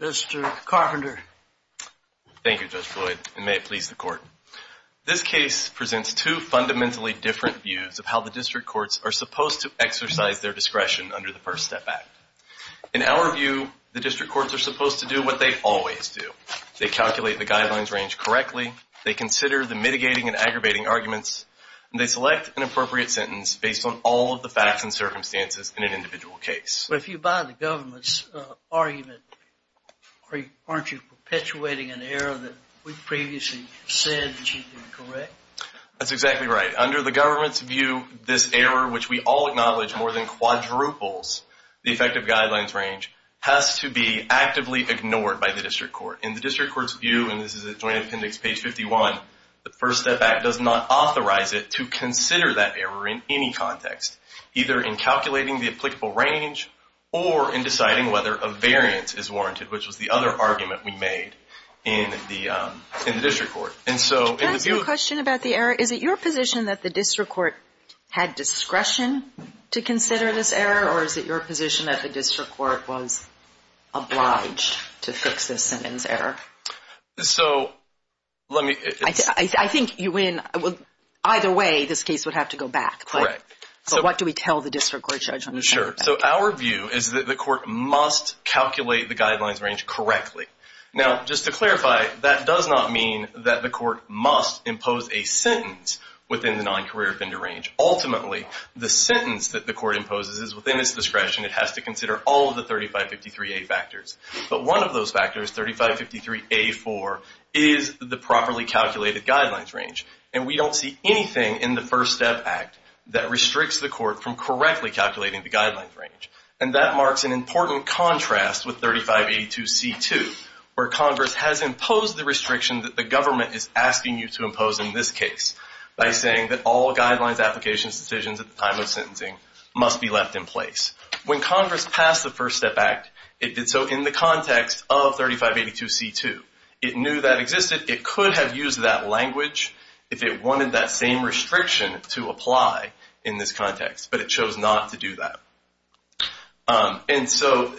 Mr. Carpenter. Thank you, Judge Floyd, and may it please the court. This case presents two fundamentally different views of how the district courts are supposed to exercise their discretion under the First Step Act. In our view, the district courts are supposed to do what they always do. They calculate the guidelines range correctly. They consider the mitigating and aggravating arguments, and they select an appropriate sentence based on all of the facts and circumstances in an individual case. But if you buy the government's argument, aren't you perpetuating an error that we previously said should be correct? That is warranted, which was the other argument we made in the district court. And so in the view of Can I ask you a question about the error? Is it your position that the district court had discretion to consider this error, or is it your position that the district court was obliged to fix this sentence error? I think you win. Either way, this case would have to go back, but what do we tell the district court judge on this case? Sure. So our view is that the court must calculate the guidelines range correctly. Now, just to clarify, that does not mean that the court must impose a sentence within the non-career offender range. Ultimately, the sentence that the court imposes is within its discretion. It has to consider all of the 3553A factors. But one of those factors, 3553A4, is the properly calculated guidelines range. And we don't see anything in the First Step Act that restricts the court from correctly calculating the guidelines range. And that marks an important contrast with 3582C2, where Congress has imposed the restriction that the government is asking you to impose in this case by saying that all guidelines, applications, decisions at the time of sentencing must be left in place. When Congress passed the First Step Act, it did so in the context of 3582C2. It knew that existed. It could have used that language if it wanted that same restriction to apply in this context, but it chose not to do that. And so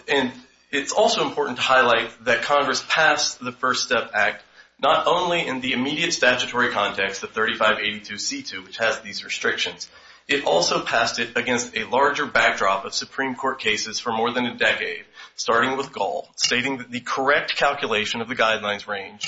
it's also important to highlight that Congress passed the First Step Act not only in the immediate statutory context of 3582C2, which has these restrictions, it also passed it against a larger backdrop of Supreme Court cases for more than a decade, starting with Gall, stating that the correct calculation of the guidelines range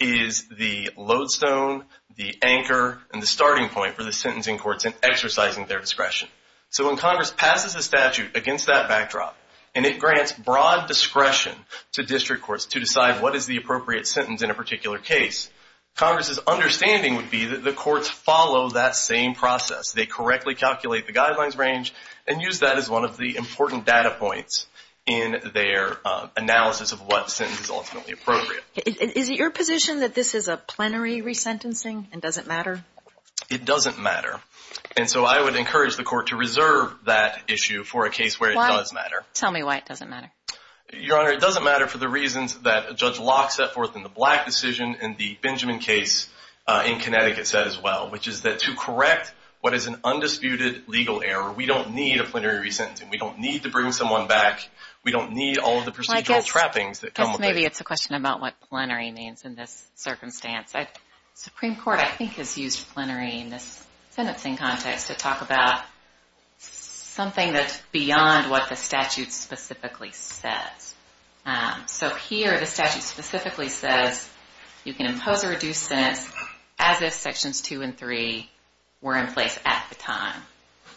is the lodestone, the anchor, and the starting point for the sentencing courts in exercising their discretion. So when Congress passes a statute against that backdrop, and it grants broad discretion to district courts to decide what is the appropriate sentence in a particular case, Congress's understanding would be that the courts follow that same process. They correctly calculate the guidelines range and use that as one of the important data points in their analysis of what sentence is ultimately appropriate. Is it your position that this is a plenary resentencing and doesn't matter? It doesn't matter. And so I would encourage the court to reserve that issue for a case where it does matter. Tell me why it doesn't matter. Your Honor, it doesn't matter for the reasons that Judge Locke set forth in the Black decision and the Benjamin case in Connecticut said as well, which is that to correct what is an undisputed legal error, we don't need a plenary resentencing. We don't need to bring someone back. We don't need all of the procedural trappings that come with it. Maybe it's a question about what plenary means in this circumstance. The Supreme Court, I think, has used plenary in this sentencing context to talk about something that's beyond what the statute specifically says. So here the statute specifically says you can impose a reduced sentence as if Sections 2 and 3 were in place at the time,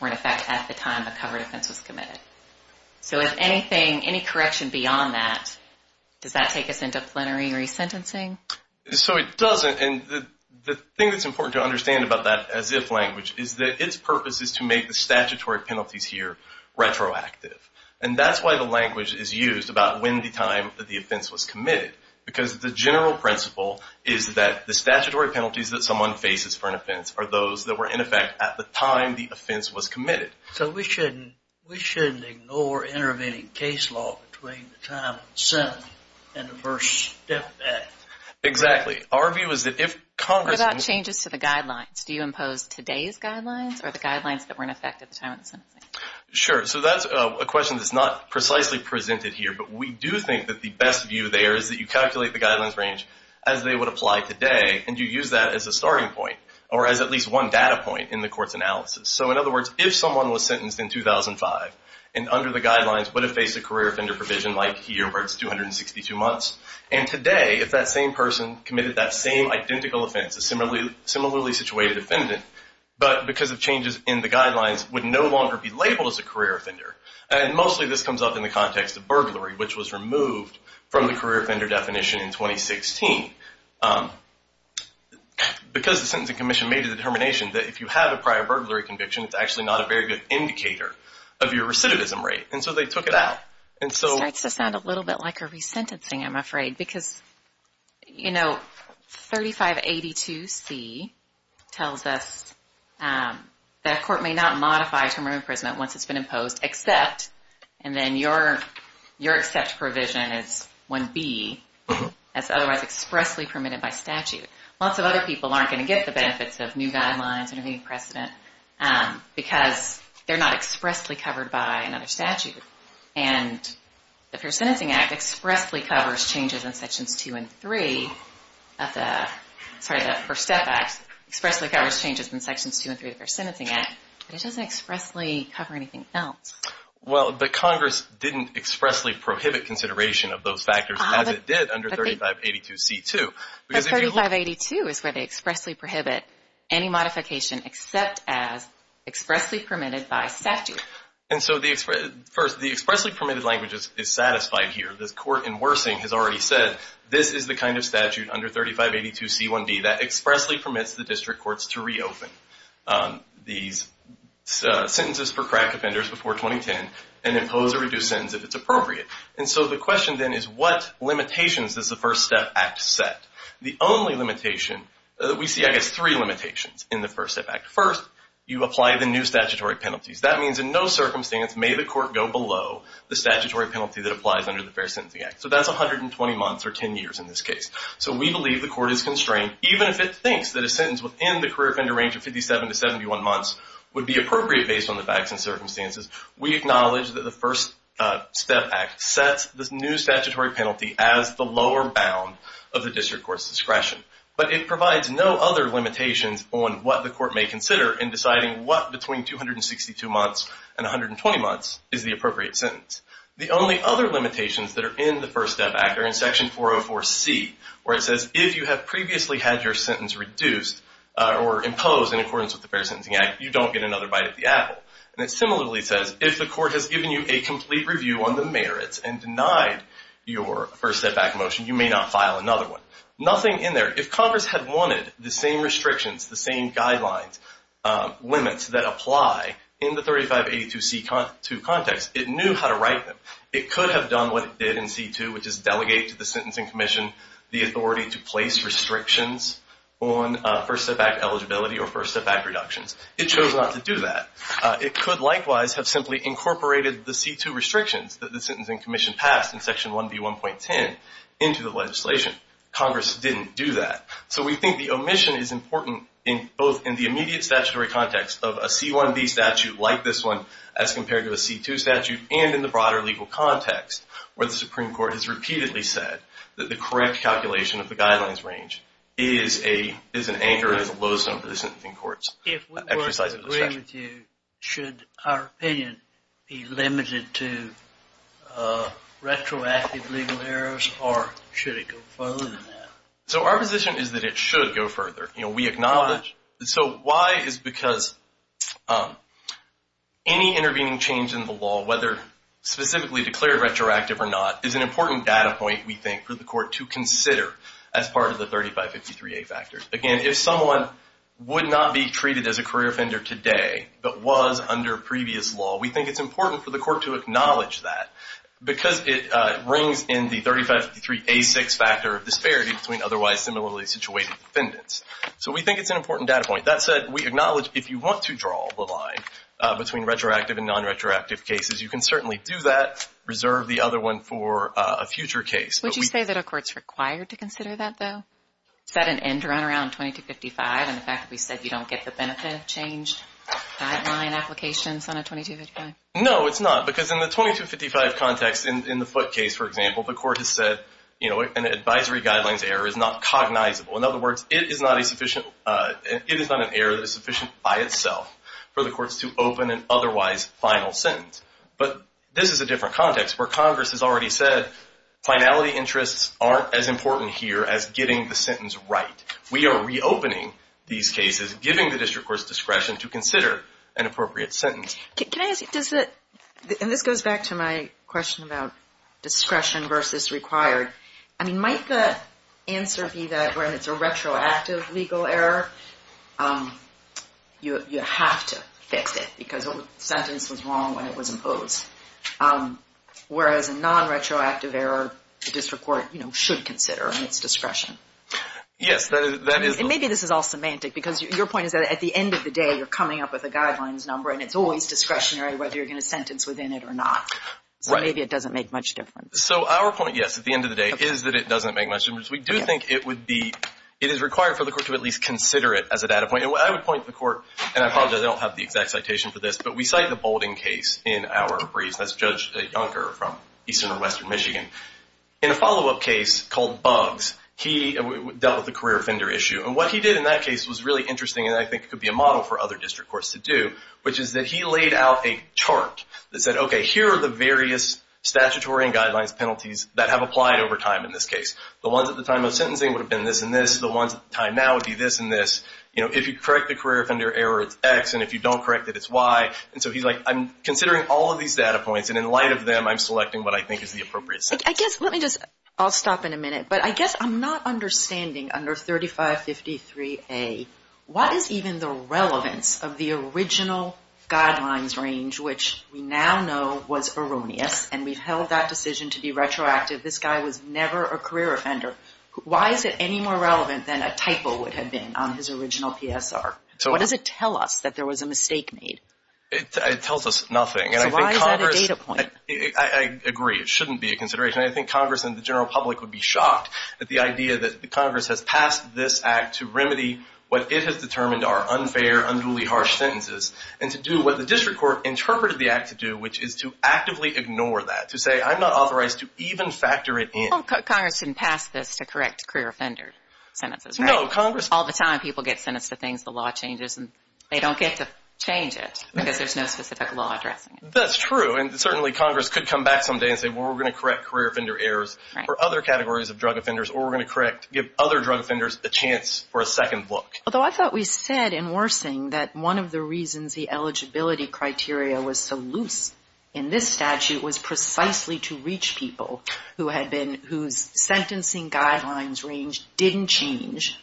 or in effect at the time a covered offense was committed. So if anything, any correction beyond that, does that take us into plenary resentencing? So it doesn't, and the thing that's important to understand about that as if language is that its purpose is to make the statutory penalties here retroactive. And that's why the language is used about when the time that the offense was committed, because the general principle is that the statutory penalties that someone faces for an offense are those that were in effect at the time the offense was committed. So we shouldn't ignore intervening case law between the time of the sentence and the first step back. Exactly. Our view is that if Congress... What about changes to the guidelines? Do you impose today's guidelines, or the guidelines that were in effect at the time of the sentencing? Sure. So that's a question that's not precisely presented here, but we do think that the best view there is that you calculate the guidelines range as they would apply today, and you use that as a starting point, or as at least one data point in the court's analysis. So in other words, if someone was sentenced in 2005, and under the guidelines would have faced a career offender provision like here, where it's 262 months, and today, if that same person committed that same identical offense, a similarly situated offendant, but because of changes in the guidelines, would no longer be labeled as a career offender. And mostly this comes up in the context of burglary, which was removed from the career offender definition in 2016. Because the Sentencing Commission made a determination that if you have a prior burglary conviction, it's actually not a very good indicator of your recidivism rate. And so they took it out. It starts to sound a little bit like a resentencing, I'm afraid. Because 3582C tells us that a court may not modify a term of imprisonment once it's been imposed, except, and then your except provision is 1B, as otherwise expressly permitted by statute. Lots of other people aren't going to get the benefits of new guidelines or new precedent, because they're not expressly covered by another statute. And the Fair Sentencing Act expressly covers changes in Sections 2 and 3, sorry, the First Step Act, expressly covers changes in Sections 2 and 3 of the Fair Sentencing Act, but it doesn't expressly cover anything else. Well, but Congress didn't expressly prohibit consideration of those factors as it did under 3582C2. But 3582 is where they expressly prohibit any modification except as expressly permitted by statute. And so the expressly permitted language is satisfied here. The Court in Worsing has already said this is the kind of statute under 3582C1B that expressly permits the district courts to reopen these sentences for crack offenders before 2010 and impose a reduced sentence if it's appropriate. And so the question then is what limitations does the First Step Act set? The only limitation that we see, I guess, three limitations in the First Step Act. First, you apply the new statutory penalties. That means in no circumstance may the court go below the statutory penalty that applies under the Fair Sentencing Act. So that's 120 months or 10 years in this case. So we believe the court is constrained even if it thinks that a sentence within the career offender range of 57 to 71 months would be appropriate based on the facts and circumstances. We acknowledge that the First Step Act sets this new statutory penalty as the lower bound of the district court's discretion. But it provides no other limitations on what the court may consider in deciding what between 262 months and 120 months is the appropriate sentence. The only other limitations that are in the First Step Act are in Section 404C where it says if you have previously had your sentence reduced or imposed in accordance with the Fair Sentencing Act, you don't get another bite of the apple. And it similarly says if the court has given you a complete review on the merits and denied your First Step Act motion, you may not file another one. Nothing in there. If Congress had wanted the same restrictions, the same guidelines limits that apply in the 3582C2 context, it knew how to write them. It could have done what it did in C2, which is delegate to the Sentencing Commission the authority to place restrictions on First Step Act eligibility or First Step Act reductions. It chose not to do that. It could likewise have simply incorporated the C2 restrictions that the Sentencing Commission passed in Section 1B1.10 into the legislation. Congress didn't do that. So we think the omission is important both in the immediate statutory context of a C1B statute like this one as compared to a C2 statute and in the broader legal context where the Supreme Court has repeatedly said that the correct calculation of the guidelines range is an anchor and is a lodestone for the Sentencing Court's exercise of discretion. If we were to agree with you, should our opinion be limited to retroactive legal errors or should it go further than that? So our position is that it should go further. We acknowledge. So why is because any intervening change in the law, whether specifically declared retroactive or not, is an important data point, we think, for the Court to consider as part of the 3553A factors. Again, if someone would not be treated as a career offender today but was under previous law, we think it's important for the Court to acknowledge that because it brings in the 3553A6 factor of disparity between otherwise similarly situated defendants. So we think it's an important data point. That said, we acknowledge if you want to draw the line between retroactive and non-retroactive cases, you can certainly do that, reserve the other one for a future case. Would you say that a Court's required to consider that, though? Is that an end-run around 2255 and the fact that we said you don't get the benefit change guideline applications on a 2255? No, it's not, because in the 2255 context in the Foote case, for example, the Court has said an advisory guidelines error is not cognizable. In other words, it is not an error that is sufficient by itself for the Courts to open an otherwise final sentence. But this is a different context where Congress has already said finality interests aren't as important here as getting the sentence right. We are reopening these cases, giving the District Courts discretion to consider an appropriate sentence. And this goes back to my question about discretion versus required. I mean, might the answer be that when it's a retroactive legal error, you have to fix it, because the sentence was wrong when it was imposed. Whereas a non-retroactive error, the District Court should consider, and it's discretion. Yes, that is the point. And maybe this is all semantic, because your point is that at the end of the day, you're coming up with a guidelines number, and it's always discretionary whether you're going to sentence within it or not. So maybe it doesn't make much difference. So our point, yes, at the end of the day, is that it doesn't make much difference. We do think it would be, it is required for the Court to at least consider it as a data point. And I would point to the Court, and I apologize, I don't have the exact citation for this, but we cite the Boulding case in our briefs. That's Judge Junker from eastern or western Michigan. In a follow-up case called Bugs, he dealt with the career offender issue. And what he did in that case was really interesting, and I think it could be a model for other District Courts to do, which is that he laid out a chart that said, okay, here are the various statutory and guidelines penalties that have applied over time in this case. The ones at the time of sentencing would have been this and this. The ones at the time now would be this and this. You know, if you correct the career offender error, it's X. And if you don't correct it, it's Y. And so he's like, I'm considering all of these data points, and in light of them, I'm selecting what I think is the appropriate sentence. I guess, let me just, I'll stop in a minute, but I guess I'm not understanding under 3553A, what is even the relevance of the original guidelines range, which we now know was erroneous, and we've held that decision to be retroactive. This guy was never a career offender. Why is it any more relevant than a typo would have been on his original PSR? What does it tell us that there was a mistake made? It tells us nothing. So why is that a data point? I agree. It shouldn't be a consideration. I think Congress and the general public would be shocked at the idea that Congress has passed this act to remedy what it has determined are unfair, unduly harsh sentences, and to do what the district court interpreted the act to do, which is to actively ignore that. To say, I'm not authorized to even factor it in. Well, Congress shouldn't pass this to correct career offender sentences, right? No, Congress... All the time, people get sentenced to things the law changes, and they don't get to change it, because there's no specific law addressing it. That's true, and certainly Congress could come back some day and say, well, we're going to correct career offender errors for other categories of drug offenders, or we're going to give other drug offenders a chance for a second look. Although I thought we said in Worsing that one of the reasons the eligibility criteria was so loose in this statute was precisely to reach people whose sentencing guidelines range didn't change.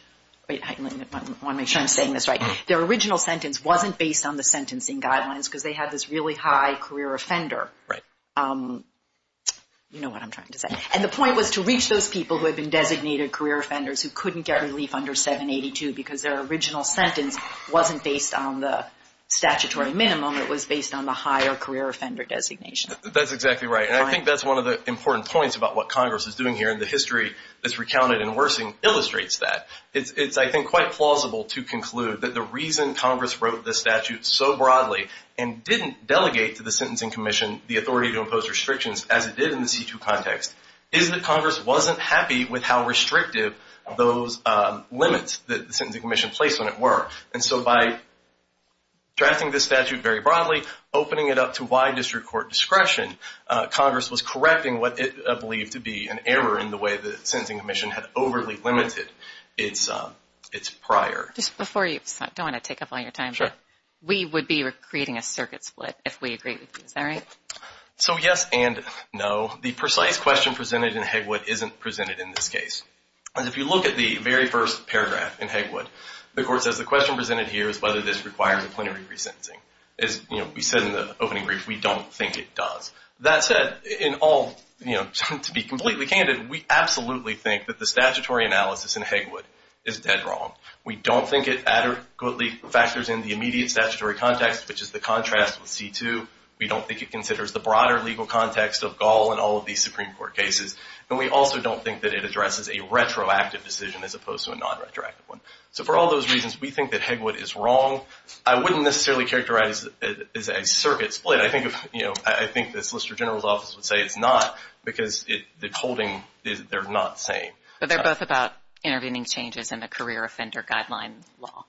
Wait, I want to make sure I'm saying this right. Their original sentence wasn't based on the sentencing guidelines because they had this really high career offender. You know what I'm trying to say. And the point was to reach those people who had been designated career offenders who couldn't get relief under 782 because their original sentence wasn't based on the statutory minimum. It was based on the higher career offender designation. That's exactly right, and I think that's one of the important points about what Congress is doing here, and the history that's recounted in Worsing illustrates that. It's, I think, quite plausible to conclude that the reason Congress wrote this statute so broadly and didn't delegate to the Sentencing Commission the authority to impose restrictions as it did in the C2 context is that Congress wasn't happy with how restrictive those limits that the Sentencing Commission placed on it were. And so by drafting this statute very broadly, opening it up to wide district court discretion, Congress was correcting what it believed to be an error in the way the Sentencing Commission had overly limited its prior. Just before you, I don't want to take up all your time, but we would be creating a circuit split if we agreed with you. Is that right? So yes and no. The precise question presented in Hegwood isn't presented in this case. If you look at the very first paragraph in Hegwood, the Court says the question presented here is whether this requires a plenary re-sentencing. As we said in the opening brief, we don't think it does. That said, to be completely candid, we absolutely think that the statutory analysis in Hegwood is dead wrong. We don't think it adequately factors in the immediate statutory context, which is the contrast with C-2. We don't think it considers the broader legal context of Gall and all of these Supreme Court cases. And we also don't think that it addresses a retroactive decision as opposed to a non-retroactive one. So for all those reasons, we think that Hegwood is wrong. I wouldn't necessarily characterize it as a circuit split. I think the Solicitor General's Office would say it's not because the holding, they're not the same. But they're both about intervening changes in the Career Offender Guideline law.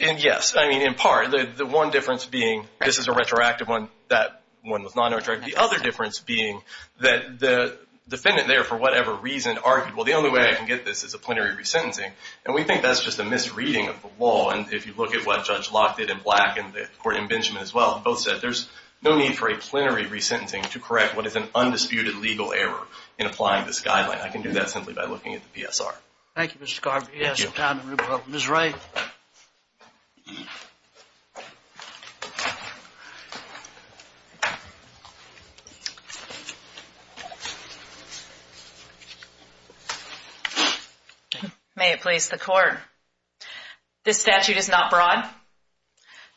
And yes, I mean, in part, the one difference being this is a retroactive one, that one was non-retroactive. The other difference being that the defendant there, for whatever reason, argued, well, the only way I can get this is a plenary re-sentencing. And we think that's just a misreading of the law. And if you look at what Judge Locke did in Black and the Court in Benjamin as well, both said there's no need for a plenary re-sentencing to correct what is an undisputed legal error in applying this guideline. I can do that simply by looking at the PSR. Thank you, Mr. Scarborough. Ms. Ray. May it please the Court. This statute is not broad.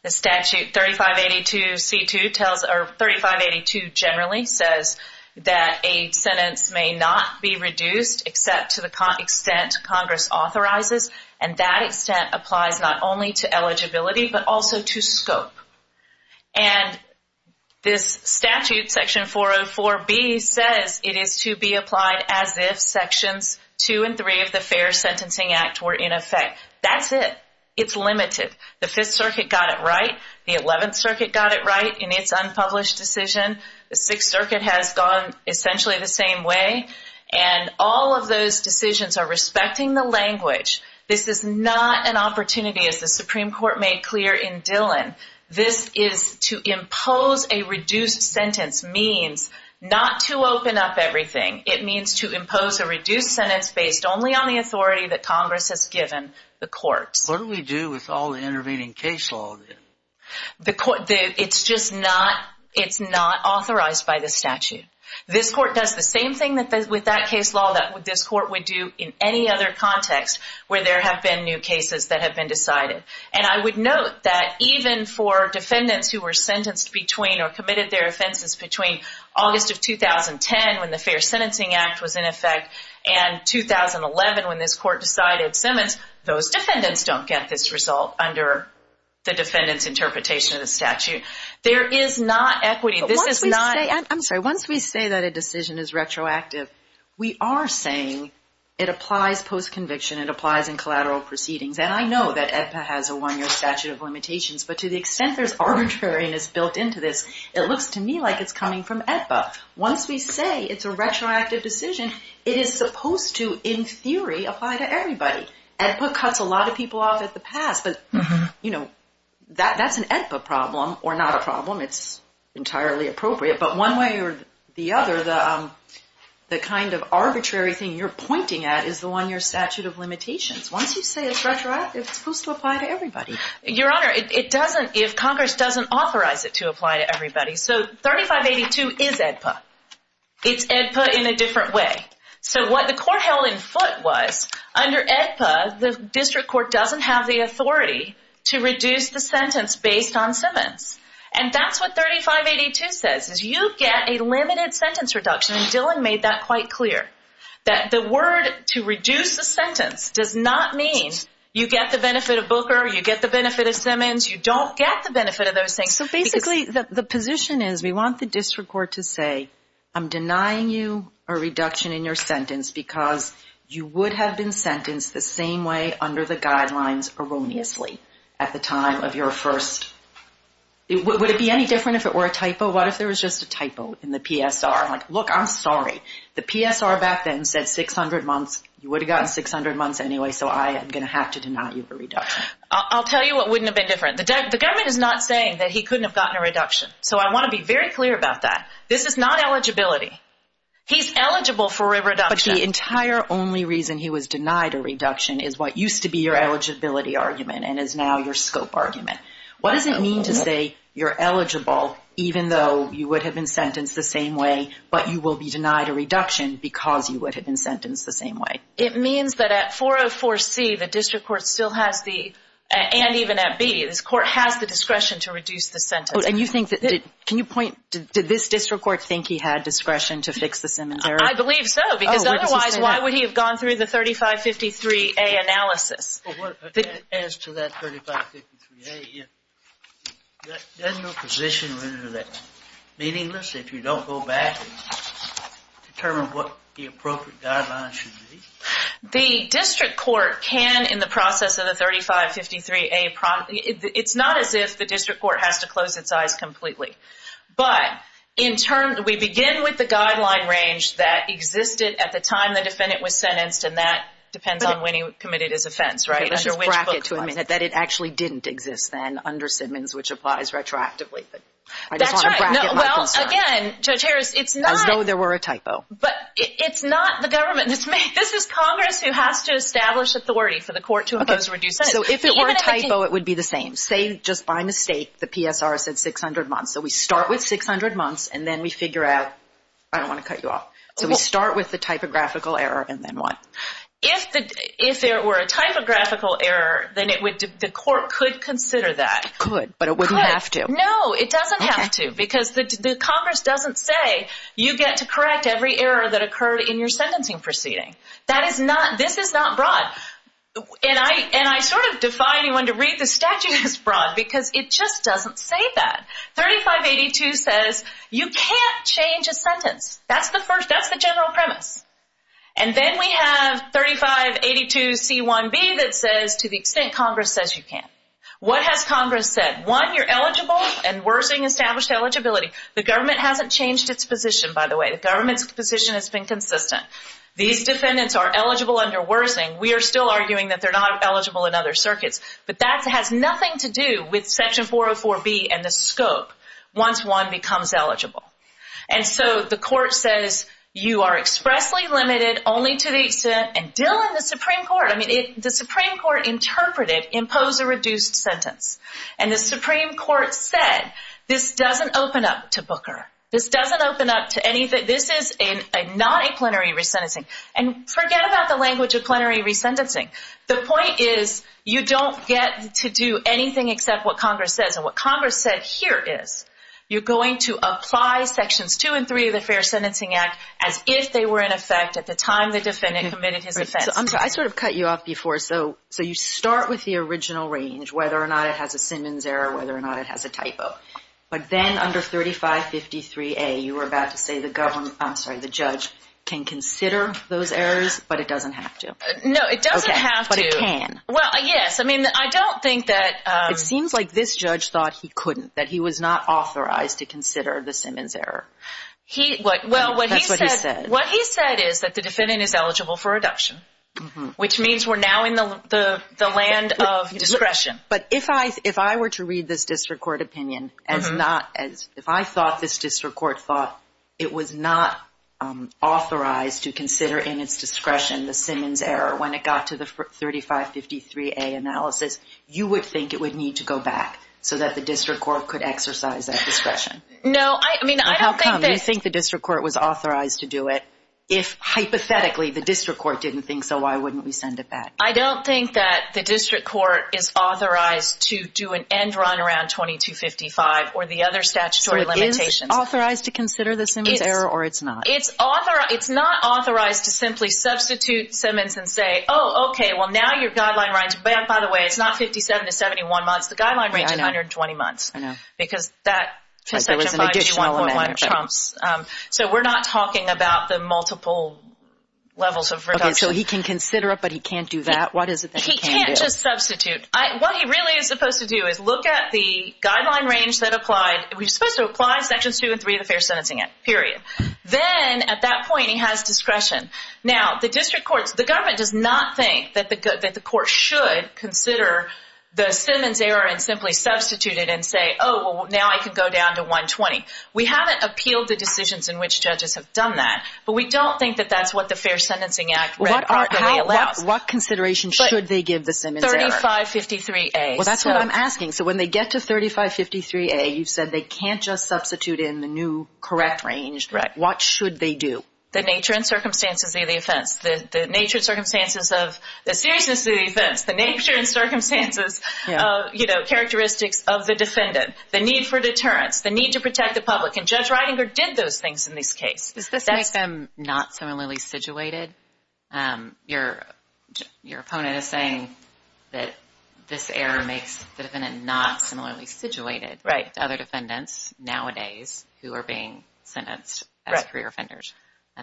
The statute 3582C2 tells, or 3582 generally says that a sentence may not be reduced except to the extent Congress authorizes. And that extent applies not only to eligibility, but also to scope. And this statute, Section 404B, says it is to be applied as if Sections 2 and 3 of the Fair Sentencing Act were in effect. That's it. It's limited. The Fifth Circuit got it right. The Eleventh Circuit got it right in its unpublished decision. The Sixth Circuit has gone essentially the same way. And all of those decisions are respecting the language. This is not an opportunity, as the Supreme Court made clear in Dillon. This is to impose a reduced sentence means not to open up everything. It means to impose a reduced sentence based only on the authority that Congress has given the courts. What do we do with all the intervening case law then? It's just not authorized by the statute. This Court does the same thing with that case law that this Court would do in any other context where there have been new cases that have been decided. And I would note that even for defendants who were sentenced between or committed their offenses between August of 2010 when the Fair Sentencing Act was in effect and 2011 when this Court decided Simmons, those defendants don't get this result under the defendant's interpretation of the statute. There is not equity. Once we say that a decision is retroactive, we are saying it applies post-conviction. It applies in collateral proceedings. And I know that AEDPA has a one-year statute of limitations. But to the extent there's arbitrariness built into this, it looks to me like it's coming from AEDPA. Once we say it's a retroactive decision, it is supposed to, in theory, apply to everybody. AEDPA cuts a lot of people off at the pass. But, you know, that's an AEDPA problem or not a problem. It's entirely appropriate. But one way or the other, the kind of arbitrary thing you're pointing at is the one-year statute of limitations. Once you say it's retroactive, it's supposed to apply to everybody. Your Honor, it doesn't if Congress doesn't authorize it to apply to everybody. So 3582 is AEDPA. It's AEDPA in a different way. So what the Court held in foot was, under AEDPA, the District Court doesn't have the authority to reduce the sentence based on Simmons. And that's what 3582 says, is you get a limited sentence reduction. And Dillon made that quite clear. That the word to reduce the sentence does not mean you get the benefit of Booker, you get the benefit of Simmons, you don't get the benefit of those things. So basically, the position is we want the District Court to say, I'm denying you a reduction in your sentence because you would have been sentenced the same way under the guidelines erroneously at the time of your first... Would it be any different if it were a typo? What if there was just a typo in the PSR? Like, look, I'm sorry. The PSR back then said 600 months. You would have gotten 600 months anyway, so I am going to have to deny you a reduction. I'll tell you what wouldn't have been different. The government is not saying that he couldn't have gotten a reduction. So I want to be very clear about that. This is not eligibility. He's eligible for a reduction. But the entire only reason he was denied a reduction is what used to be your eligibility argument and is now your scope argument. What does it mean to say you're eligible even though you would have been sentenced the same way but you will be denied a reduction because you would have been sentenced the same way? It means that at 404C, the District Court still has the... And even at B, this Court has the discretion to reduce the sentence. Can you point... Did this District Court think he had discretion to fix the cemetery? I believe so, because otherwise, why would he have gone through the 3553A analysis? As to that 3553A, is there no position whether that's meaningless if you don't go back and determine what the appropriate guidelines should be? The District Court can, in the process of the 3553A... It's not as if the District Court has to close its eyes completely. But we begin with the guideline range that existed at the time the defendant was sentenced and that depends on when he committed his offense, right? Let's bracket to a minute that it actually didn't exist then under Simmons, which applies retroactively. I just want to bracket my concern. Again, Judge Harris, it's not... As though there were a typo. But it's not the government. This is Congress who has to establish authority for the Court to impose a reduced sentence. So if it were a typo, it would be the same. Say, just by mistake, the PSR said 600 months. So we start with 600 months and then we figure out, I don't want to cut you off. So we start with the typographical error and then what? If there were a typographical error, then the Court could consider that. It could, but it wouldn't have to. No, it doesn't have to, because Congress doesn't say you get to correct every error that occurred in your sentencing proceeding. This is not broad. And I sort of defy anyone to read the statute as broad because it just doesn't say that. 3582 says you can't change a sentence. That's the general premise. And then we have 3582C1B that says, to the extent Congress says you can. What has Congress said? One, you're eligible and Worsing established eligibility. The government hasn't changed its position, by the way. The government's position has been consistent. These defendants are eligible under Worsing. We are still arguing that they're not eligible in other circuits. But that has nothing to do with Section 404B and the scope once one becomes eligible. And so the Court says you are expressly limited only to the extent and Dillon, the Supreme Court, the Supreme Court interpreted impose a reduced sentence. And the Supreme Court said this doesn't open up to Booker. This doesn't open up to anything. This is not a plenary resentencing. And forget about the language of plenary resentencing. The point is you don't get to do anything except what Congress says. And what Congress said here is you're going to apply Sections 2 and 3 of the Fair Sentencing Act as if they were in effect at the time the defendant committed his offense. I sort of cut you off before. So you start with the original range, whether or not it has a Simmons error, whether or not it has a typo. But then under 3553A you were about to say the judge can consider those errors, but it doesn't have to. No, it doesn't have to. Well, yes. I mean, I don't think that It seems like this judge thought he couldn't, that he was not authorized to consider the Simmons error. Well, what he said is that the defendant is eligible for reduction, which means we're now in the land of discretion. But if I were to read this district court opinion as if I thought this district court thought it was not authorized to consider in its discretion the Simmons error when it got to the 3553A analysis, you would think it would need to go back so that the district court could exercise that discretion. No, I mean, I don't think that You think the district court was authorized to do it. If, hypothetically, the district court didn't think so, why wouldn't we send it back? I don't think that the district court is authorized to do an end run around 2255 or the other statutory limitations. So it is authorized to consider the Simmons error, or it's not? It's not authorized to simply substitute Simmons and say oh, okay, well now your guideline by the way, it's not 57 to 71 months, the guideline range is 120 months. Because that section 5G1.1 trumps. So we're not talking about the multiple levels of reduction. Okay, so he can consider it, but he can't do that? He can't just substitute. What he really is supposed to do is look at the guideline range that applied we're supposed to apply sections 2 and 3 of the Fair Sentencing Act, period. Then, at that point, he has discretion. Now, the district court, the government does not think that the court should consider the Simmons error and simply substitute it and say oh, now I can go down to 120. We haven't appealed the decisions in which judges have done that, but we don't think that that's what the Fair Sentencing Act read properly allows. What consideration should they give the Simmons error? 3553A. Well, that's what I'm asking. So when they get to 3553A, you've said they can't just substitute in the new correct range. What should they do? The nature and circumstances of the offense. The nature and circumstances of the seriousness of the offense. The nature and circumstances of, you know, characteristics of the defendant. The need for deterrence. The need to protect the public. And Judge Reidinger did those things in this case. Does this make them not similarly situated? Your opponent is saying that this error makes the defendant not similarly situated to other defendants nowadays who are being sentenced as career offenders.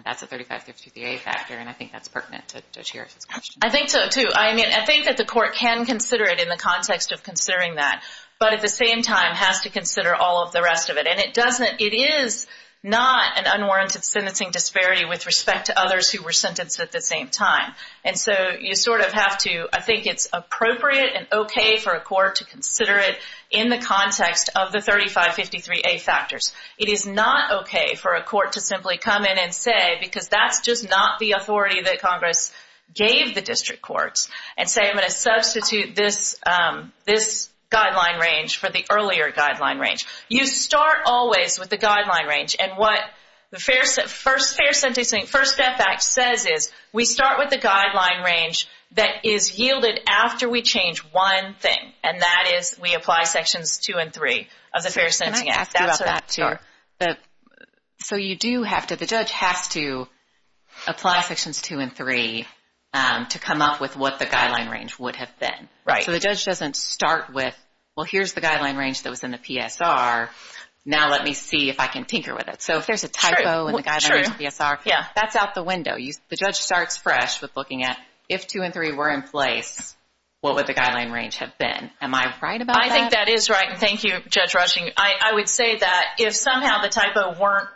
That's a 3553A factor, and I think that's pertinent to Judge Harris' question. I think so, too. I mean, I think that the court can consider it in the context of considering that, but at the same time has to consider all of the rest of it. And it doesn't, it is not an unwarranted sentencing disparity with respect to others who were sentenced at the same time. And so you sort of have to, I think it's appropriate and okay for a court to consider it in the context of the 3553A factors. It is not okay for a court to simply come in and say, because that's just not the authority that Congress gave the district courts, and say I'm going to substitute this guideline range for the earlier guideline range. You start always with the guideline range, and what the Fair Sentencing Act says is we start with the guideline range that is yielded after we change one thing, and that is we apply Sections 2 and 3 of the Fair Sentencing Act. Can I ask you about that, too? So you do have to, the judge has to apply Sections 2 and 3 to come up with what the guideline range would have been. Right. So the judge doesn't start with well, here's the guideline range that was in the Sections 2 and 3, and let's see if I can tinker with it. So if there's a typo in the guideline range for PSR, that's out the window. The judge starts fresh with looking at if 2 and 3 were in place, what would the guideline range have been? Am I right about that? I think that is right. Thank you, Judge Rushing. I would say that if somehow the typo weren't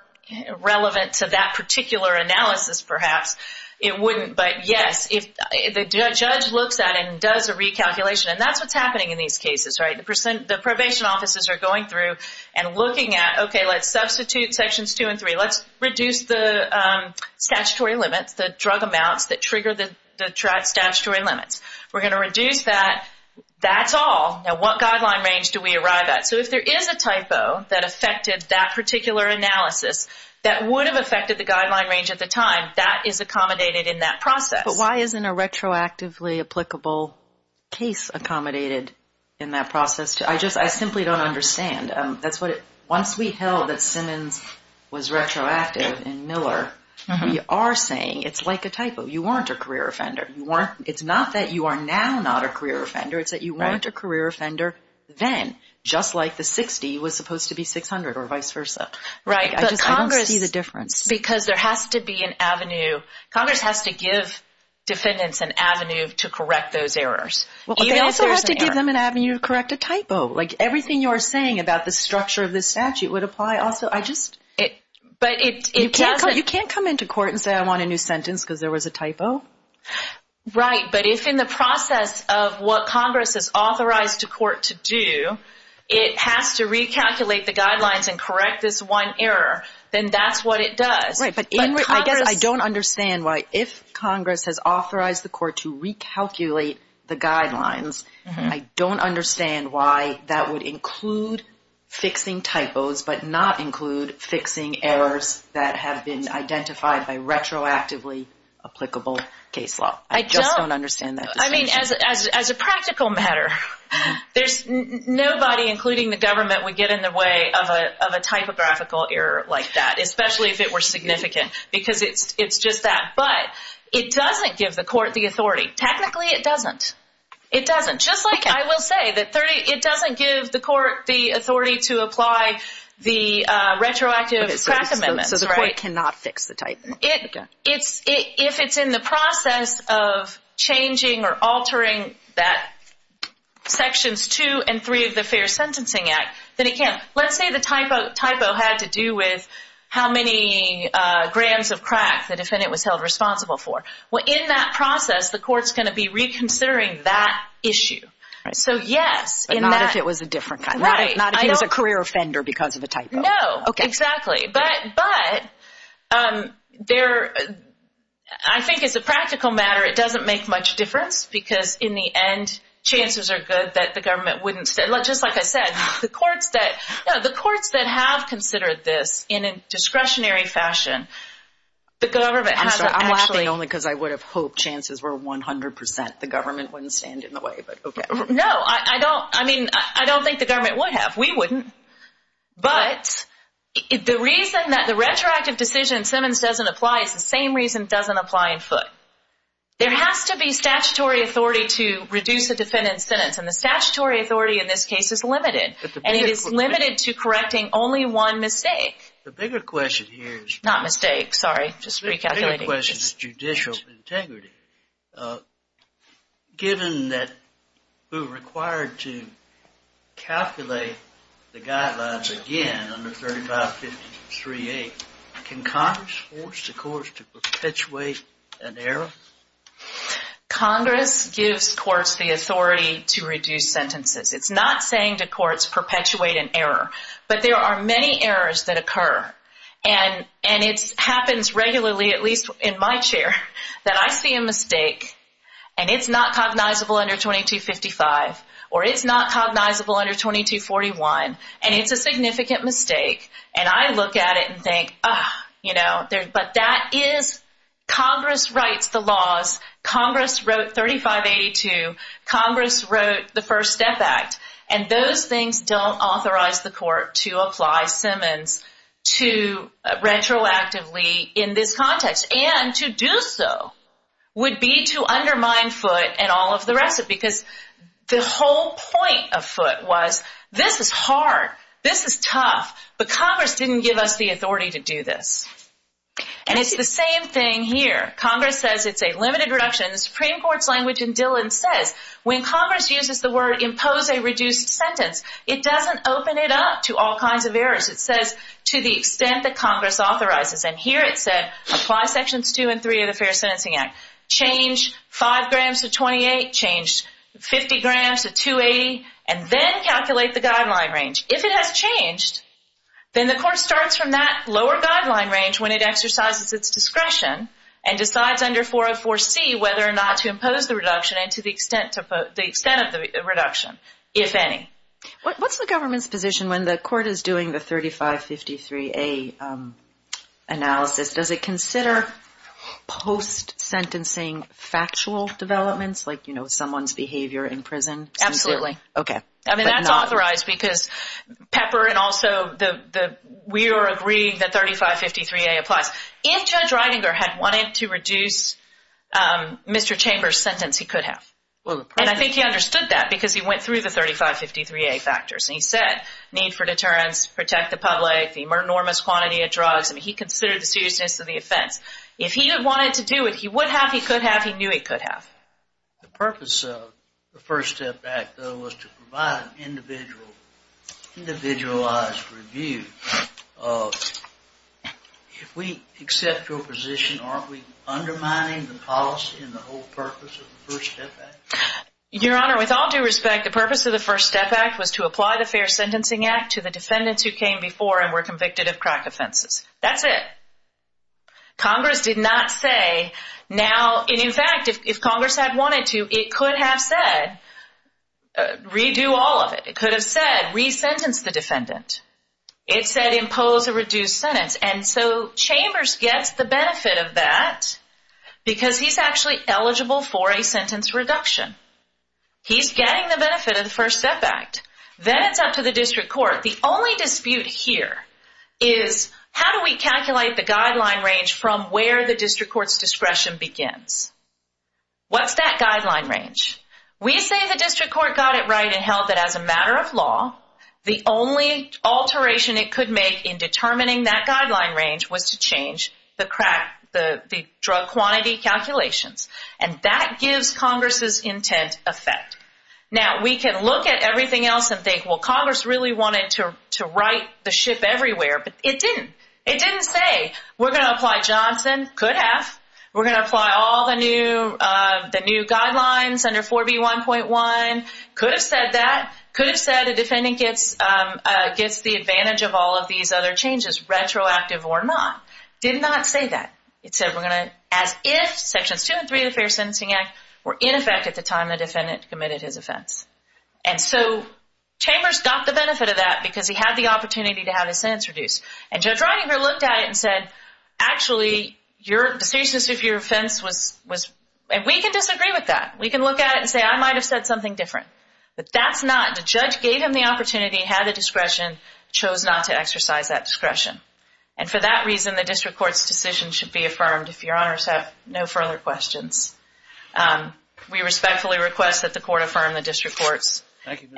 relevant to that particular analysis, perhaps, it wouldn't, but yes, if the judge looks at it and does a recalculation, and that's what's happening in these cases, right? The probation offices are going through and looking at, okay, let's substitute Sections 2 and 3. Let's reduce the statutory limits, the drug amounts that trigger the statutory limits. We're going to reduce that. That's all. Now what guideline range do we arrive at? So if there is a typo that affected that particular analysis that would have affected the guideline range at the time, that is accommodated in that process. But why isn't a retroactively applicable case accommodated in that process? I simply don't understand. Once we held that Simmons was retroactive and Miller, we are saying it's like a typo. You weren't a career offender. It's not that you are now not a career offender. It's that you weren't a career offender then, just like the 60 was supposed to be 600 or vice versa. I just don't see the difference. Because there has to be an avenue. Congress has to give defendants an avenue to correct those errors. They also have to give them an avenue to correct a typo. Everything you are saying about the structure of this statute would apply also. I just... You can't come into court and say I want a new sentence because there was a typo. Right, but if in the process of what Congress has authorized the court to do, it has to recalculate the guidelines and correct this one error, then that's what it does. I don't understand why if Congress has authorized the court to recalculate the guidelines, I don't understand why that would include fixing typos but not include fixing errors that have been identified by retroactively applicable case law. I just don't understand that. As a practical matter, there's nobody, including the government, would get in the way of a typographical error like that. Especially if it were significant. Because it's just that. But it doesn't give the court the authority. Technically it doesn't. It doesn't. Just like I will say, it doesn't give the court the authority to apply the retroactive crack amendments. So the court cannot fix the typo. If it's in the process of changing or altering that sections 2 and 3 of the Fair Sentencing Act, then it can't. Let's say the typo had to do with how many grams of crack the defendant was held responsible for. In that process, the court's going to be reconsidering that issue. So yes. Not if it was a career offender because of a typo. Exactly. But I think as a practical matter it doesn't make much difference because in the end, chances are good that the government wouldn't. Just like I said, the courts that have considered this in a discretionary fashion. I'm laughing only because I would have hoped chances were 100%. The government wouldn't stand in the way. No, I don't think the government would have. We wouldn't. But the reason that the retroactive decision in Simmons doesn't apply is the same reason it doesn't apply in Foote. There has to be statutory authority to reduce a defendant's sentence. And the statutory authority in this case is limited. And it is limited to correcting only one mistake. The bigger question here is judicial integrity. Given that we're required to calculate the guidelines again under 35 53A, can Congress force the courts to perpetuate an error? Congress gives courts the authority to reduce perpetuate an error. But there are many errors that occur. And it happens regularly, at least in my chair, that I see a mistake and it's not cognizable under 2255 or it's not cognizable under 2241 and it's a significant mistake. And I look at it and think, you know, but that is Congress writes the laws. Congress wrote 3582. Congress wrote the First Step Act. And those things don't authorize the court to apply Simmons to retroactively in this context. And to do so would be to undermine Foote and all of the rest of it. Because the whole point of Foote was, this is hard. This is tough. But Congress didn't give us the authority to do this. And it's the same thing here. Congress says it's a limited reduction. The Supreme Court's language in the word, impose a reduced sentence. It doesn't open it up to all kinds of errors. It says, to the extent that Congress authorizes. And here it said, apply sections 2 and 3 of the Fair Sentencing Act. Change 5 grams to 28. Change 50 grams to 280. And then calculate the guideline range. If it has changed, then the court starts from that lower guideline range when it exercises its discretion and decides under 404C whether or not to impose the reduction and to the extent of the reduction, if any. What's the government's position when the court is doing the 3553A analysis? Does it consider post-sentencing factual developments? Like, you know, someone's behavior in prison? Absolutely. I mean, that's authorized because Pepper and also we are agreeing that 3553A applies. If Judge Ridinger had wanted to reduce Mr. Chambers' sentence, he could have. And I think he understood that because he went through the 3553A factors. And he said, need for deterrence, protect the public, the enormous quantity of drugs. I mean, he considered the seriousness of the offense. If he had wanted to do it, he would have, he could have, he knew he could have. The purpose of the First Step Act, though, was to provide an individualized review of if we accept your position, aren't we undermining the policy and the whole purpose of the First Step Act? Your Honor, with all due respect, the purpose of the First Step Act was to apply the Fair Sentencing Act to the defendants who came before and were convicted of crack offenses. That's it. Congress did not say now, and in fact, if Congress had wanted to, it could have said redo all of it. It could have said resentence the defendant. It said impose a reduced sentence. And so Congress did that because he's actually eligible for a sentence reduction. He's getting the benefit of the First Step Act. Then it's up to the district court. The only dispute here is how do we calculate the guideline range from where the district court's discretion begins? What's that guideline range? We say the district court got it right and held that as a matter of law, the only alteration it could make in determining that guideline range was to change the crack the drug quantity calculations. And that gives Congress's intent effect. Now, we can look at everything else and think, well, Congress really wanted to write the ship everywhere, but it didn't. It didn't say we're going to apply Johnson. Could have. We're going to apply all the new guidelines under 4B1.1. Could have said that. Could have said the defendant gets the advantage of all these other changes, retroactive or not. Did not say that. It said we're going to, as if sections 2 and 3 of the Fair Sentencing Act were in effect at the time the defendant committed his offense. And so Chambers got the benefit of that because he had the opportunity to have his sentence reduced. And Judge Reininger looked at it and said, actually, the seriousness of your offense was, and we can disagree with that. We can look at it and say, I might have said something different. But that's not. The judge gave him the opportunity, had the discretion, chose not to exercise that discretion. And for that reason, the district court's decision should be affirmed, if your honors have no further questions. We respectfully request that the court affirm the district court's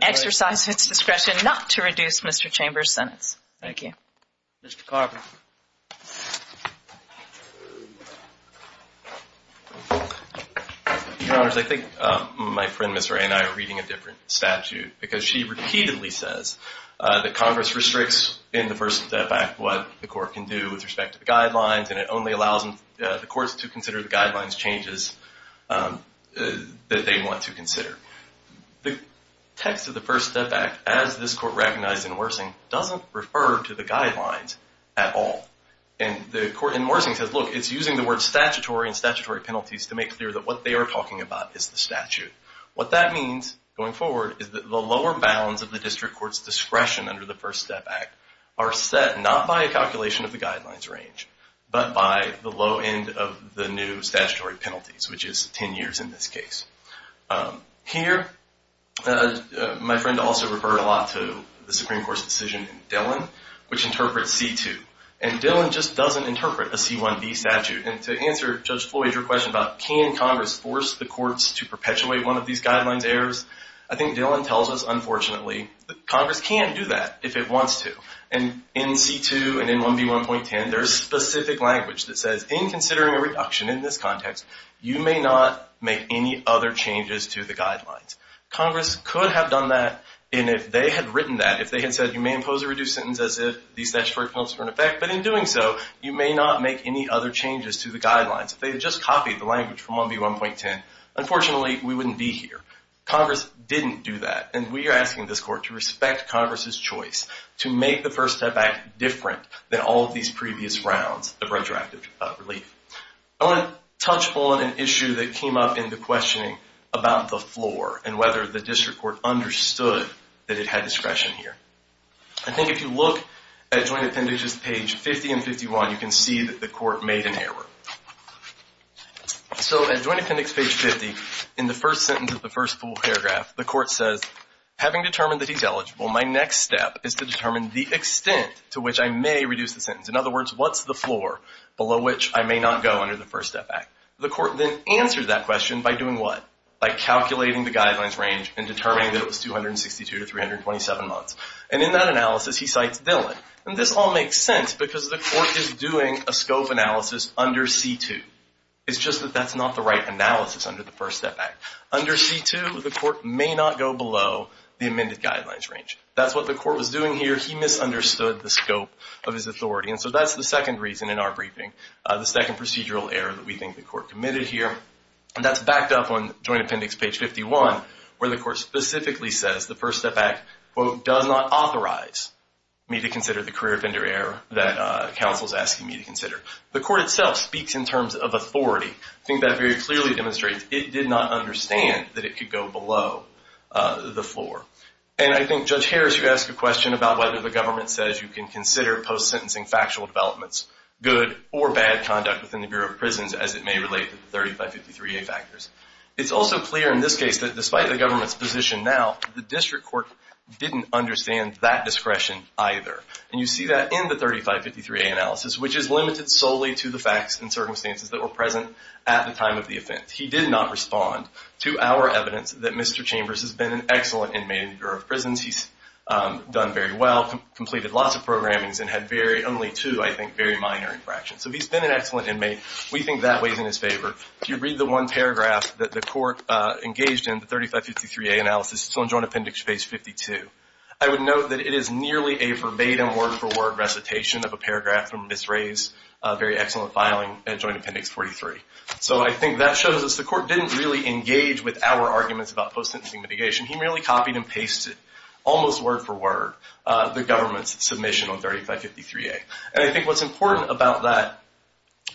exercise its discretion not to reduce Mr. Chambers' sentence. Thank you. Mr. Carver. Your honors, I think my friend Ms. Ray and I are reading a different statute because she repeatedly says that Congress restricts in the First Step Act what the court can do with respect to the guidelines and it only allows the courts to consider the guidelines changes that they want to consider. The text of the First Step Act, as this court recognized in Worsing, doesn't refer to the guidelines at all. And Worsing says, look, it's using the word statutory and statutory penalties to make clear that what they are talking about is the statute. What that means, going forward, is that the lower bounds of the district court's discretion under the First Step Act are set not by a calculation of the guidelines range, but by the low end of the new statutory penalties, which is 10 years in this case. Here, my friend also referred a lot to the Supreme Court's decision in Dillon, which interprets C-2. And Dillon just doesn't interpret a C-1B statute. And to answer Judge Floyd's question about can Congress force the courts to perpetuate one of these guidelines errors, I think Dillon tells us, unfortunately, that Congress can't do that if it wants to. And in C-2 and in 1B1.10, there's specific language that says in considering a reduction in this context, you may not make any other changes to the guidelines. Congress could have done that and if they had written that, if they had said you may impose a reduced sentence as if these statutory penalties were in effect, but in doing so, you may not make any other changes to the guidelines. If they had just copied the language from 1B1.10, unfortunately, we wouldn't be here. Congress didn't do that. And we are asking this court to respect Congress's choice to make the First Step Act different than all of these previous rounds of redrafted relief. I want to touch on an issue that came up in the questioning about the floor and whether the District Court understood that it had discretion here. I think if you look at Joint Appendages page 50 and 51, you can see that the court made an error. So at Joint Appendix page 50, in the first sentence of the first full paragraph, the court says having determined that he's eligible, my next step is to determine the extent to which I may reduce the sentence. In other words, what's the floor below which I may not go under the First Step Act? The court then answers that question by doing what? By calculating the guidelines range and determining that it was 262 to 327 months. And in that analysis he cites Dillon. And this all makes sense because the court is doing a scope analysis under C2. It's just that that's not the right analysis under the First Step Act. Under C2 the court may not go below the amended guidelines range. That's what the court was doing here. He misunderstood the scope of his authority. And so that's the second reason in our briefing, the second procedural error that we think the court committed here. And that's backed up on Joint Appendix page 51, where the court specifically says the First Step Act quote, does not authorize me to consider the career offender error that counsel is asking me to consider. The court itself speaks in terms of authority. I think that very clearly demonstrates it did not understand that it could go below the floor. And I think Judge Harris, you asked a question about whether the government says you can consider post-sentencing factual developments good or bad conduct within the Bureau of Prisons as it may relate to the 3553A factors. It's also clear in this case that despite the government's position now, the district court didn't understand that discretion either. And you see that in the 3553A analysis, which is limited solely to the facts and circumstances that were present at the time of the offense. He did not respond to our evidence that Mr. Chambers has been an excellent inmate in the Bureau of Prisons. He's done very well, completed lots of programmings, and had only two, I think, very minor infractions. So he's been an excellent inmate. We think that weighs in his favor. If you read the one paragraph that the court engaged in, the 3553A analysis, on Joint Appendix Phase 52, I would note that it is nearly a verbatim, word-for-word recitation of a paragraph from Ms. Ray's very excellent filing in Joint Appendix 43. So I think that shows us the court didn't really engage with our arguments about post-sentencing mitigation. He merely copied and pasted almost word-for-word the government's submission on 3553A. And I think what's important about that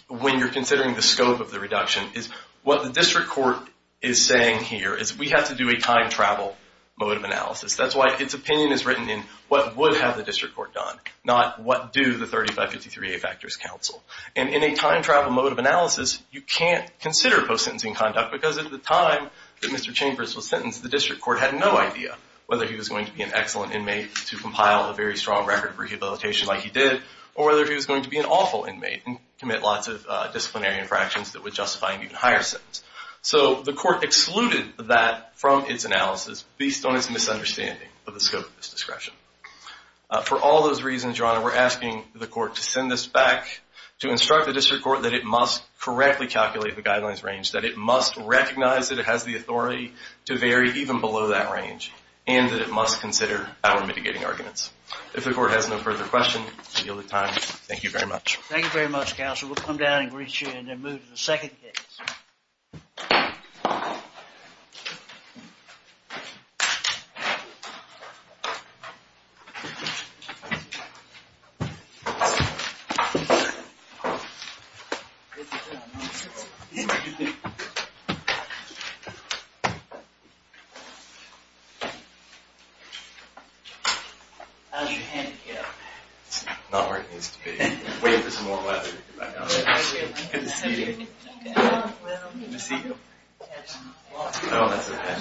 when you're considering the scope of the reduction is what the district court is saying here is we have to do a time-travel mode of analysis. That's why its opinion is written in what would have the district court done, not what do the 3553A factors counsel. And in a time-travel mode of analysis, you can't consider post-sentencing conduct because at the time that Mr. Chambers was sentenced, the district court had no idea whether he was going to be an excellent inmate to compile a very strong record for rehabilitation like he did, or whether he was going to be an awful inmate and commit lots of disciplinary infractions that would justify an even higher sentence. So the court excluded that from its analysis based on its misunderstanding of the scope of this discretion. For all those reasons, Your Honor, we're asking the court to send this back to instruct the district court that it must correctly calculate the guidelines range, that it must recognize that it has the authority to vary even below that range, and that it must consider our mitigating arguments. If the court has no further questions, I yield the time. Thank you very much. Thank you very much, Counsel. We'll come down and greet you and then move to the second case. How's your hand feel? It's not where it needs to be. Wait for some more weather. Good to see you. Good to see you. Oh, that's okay.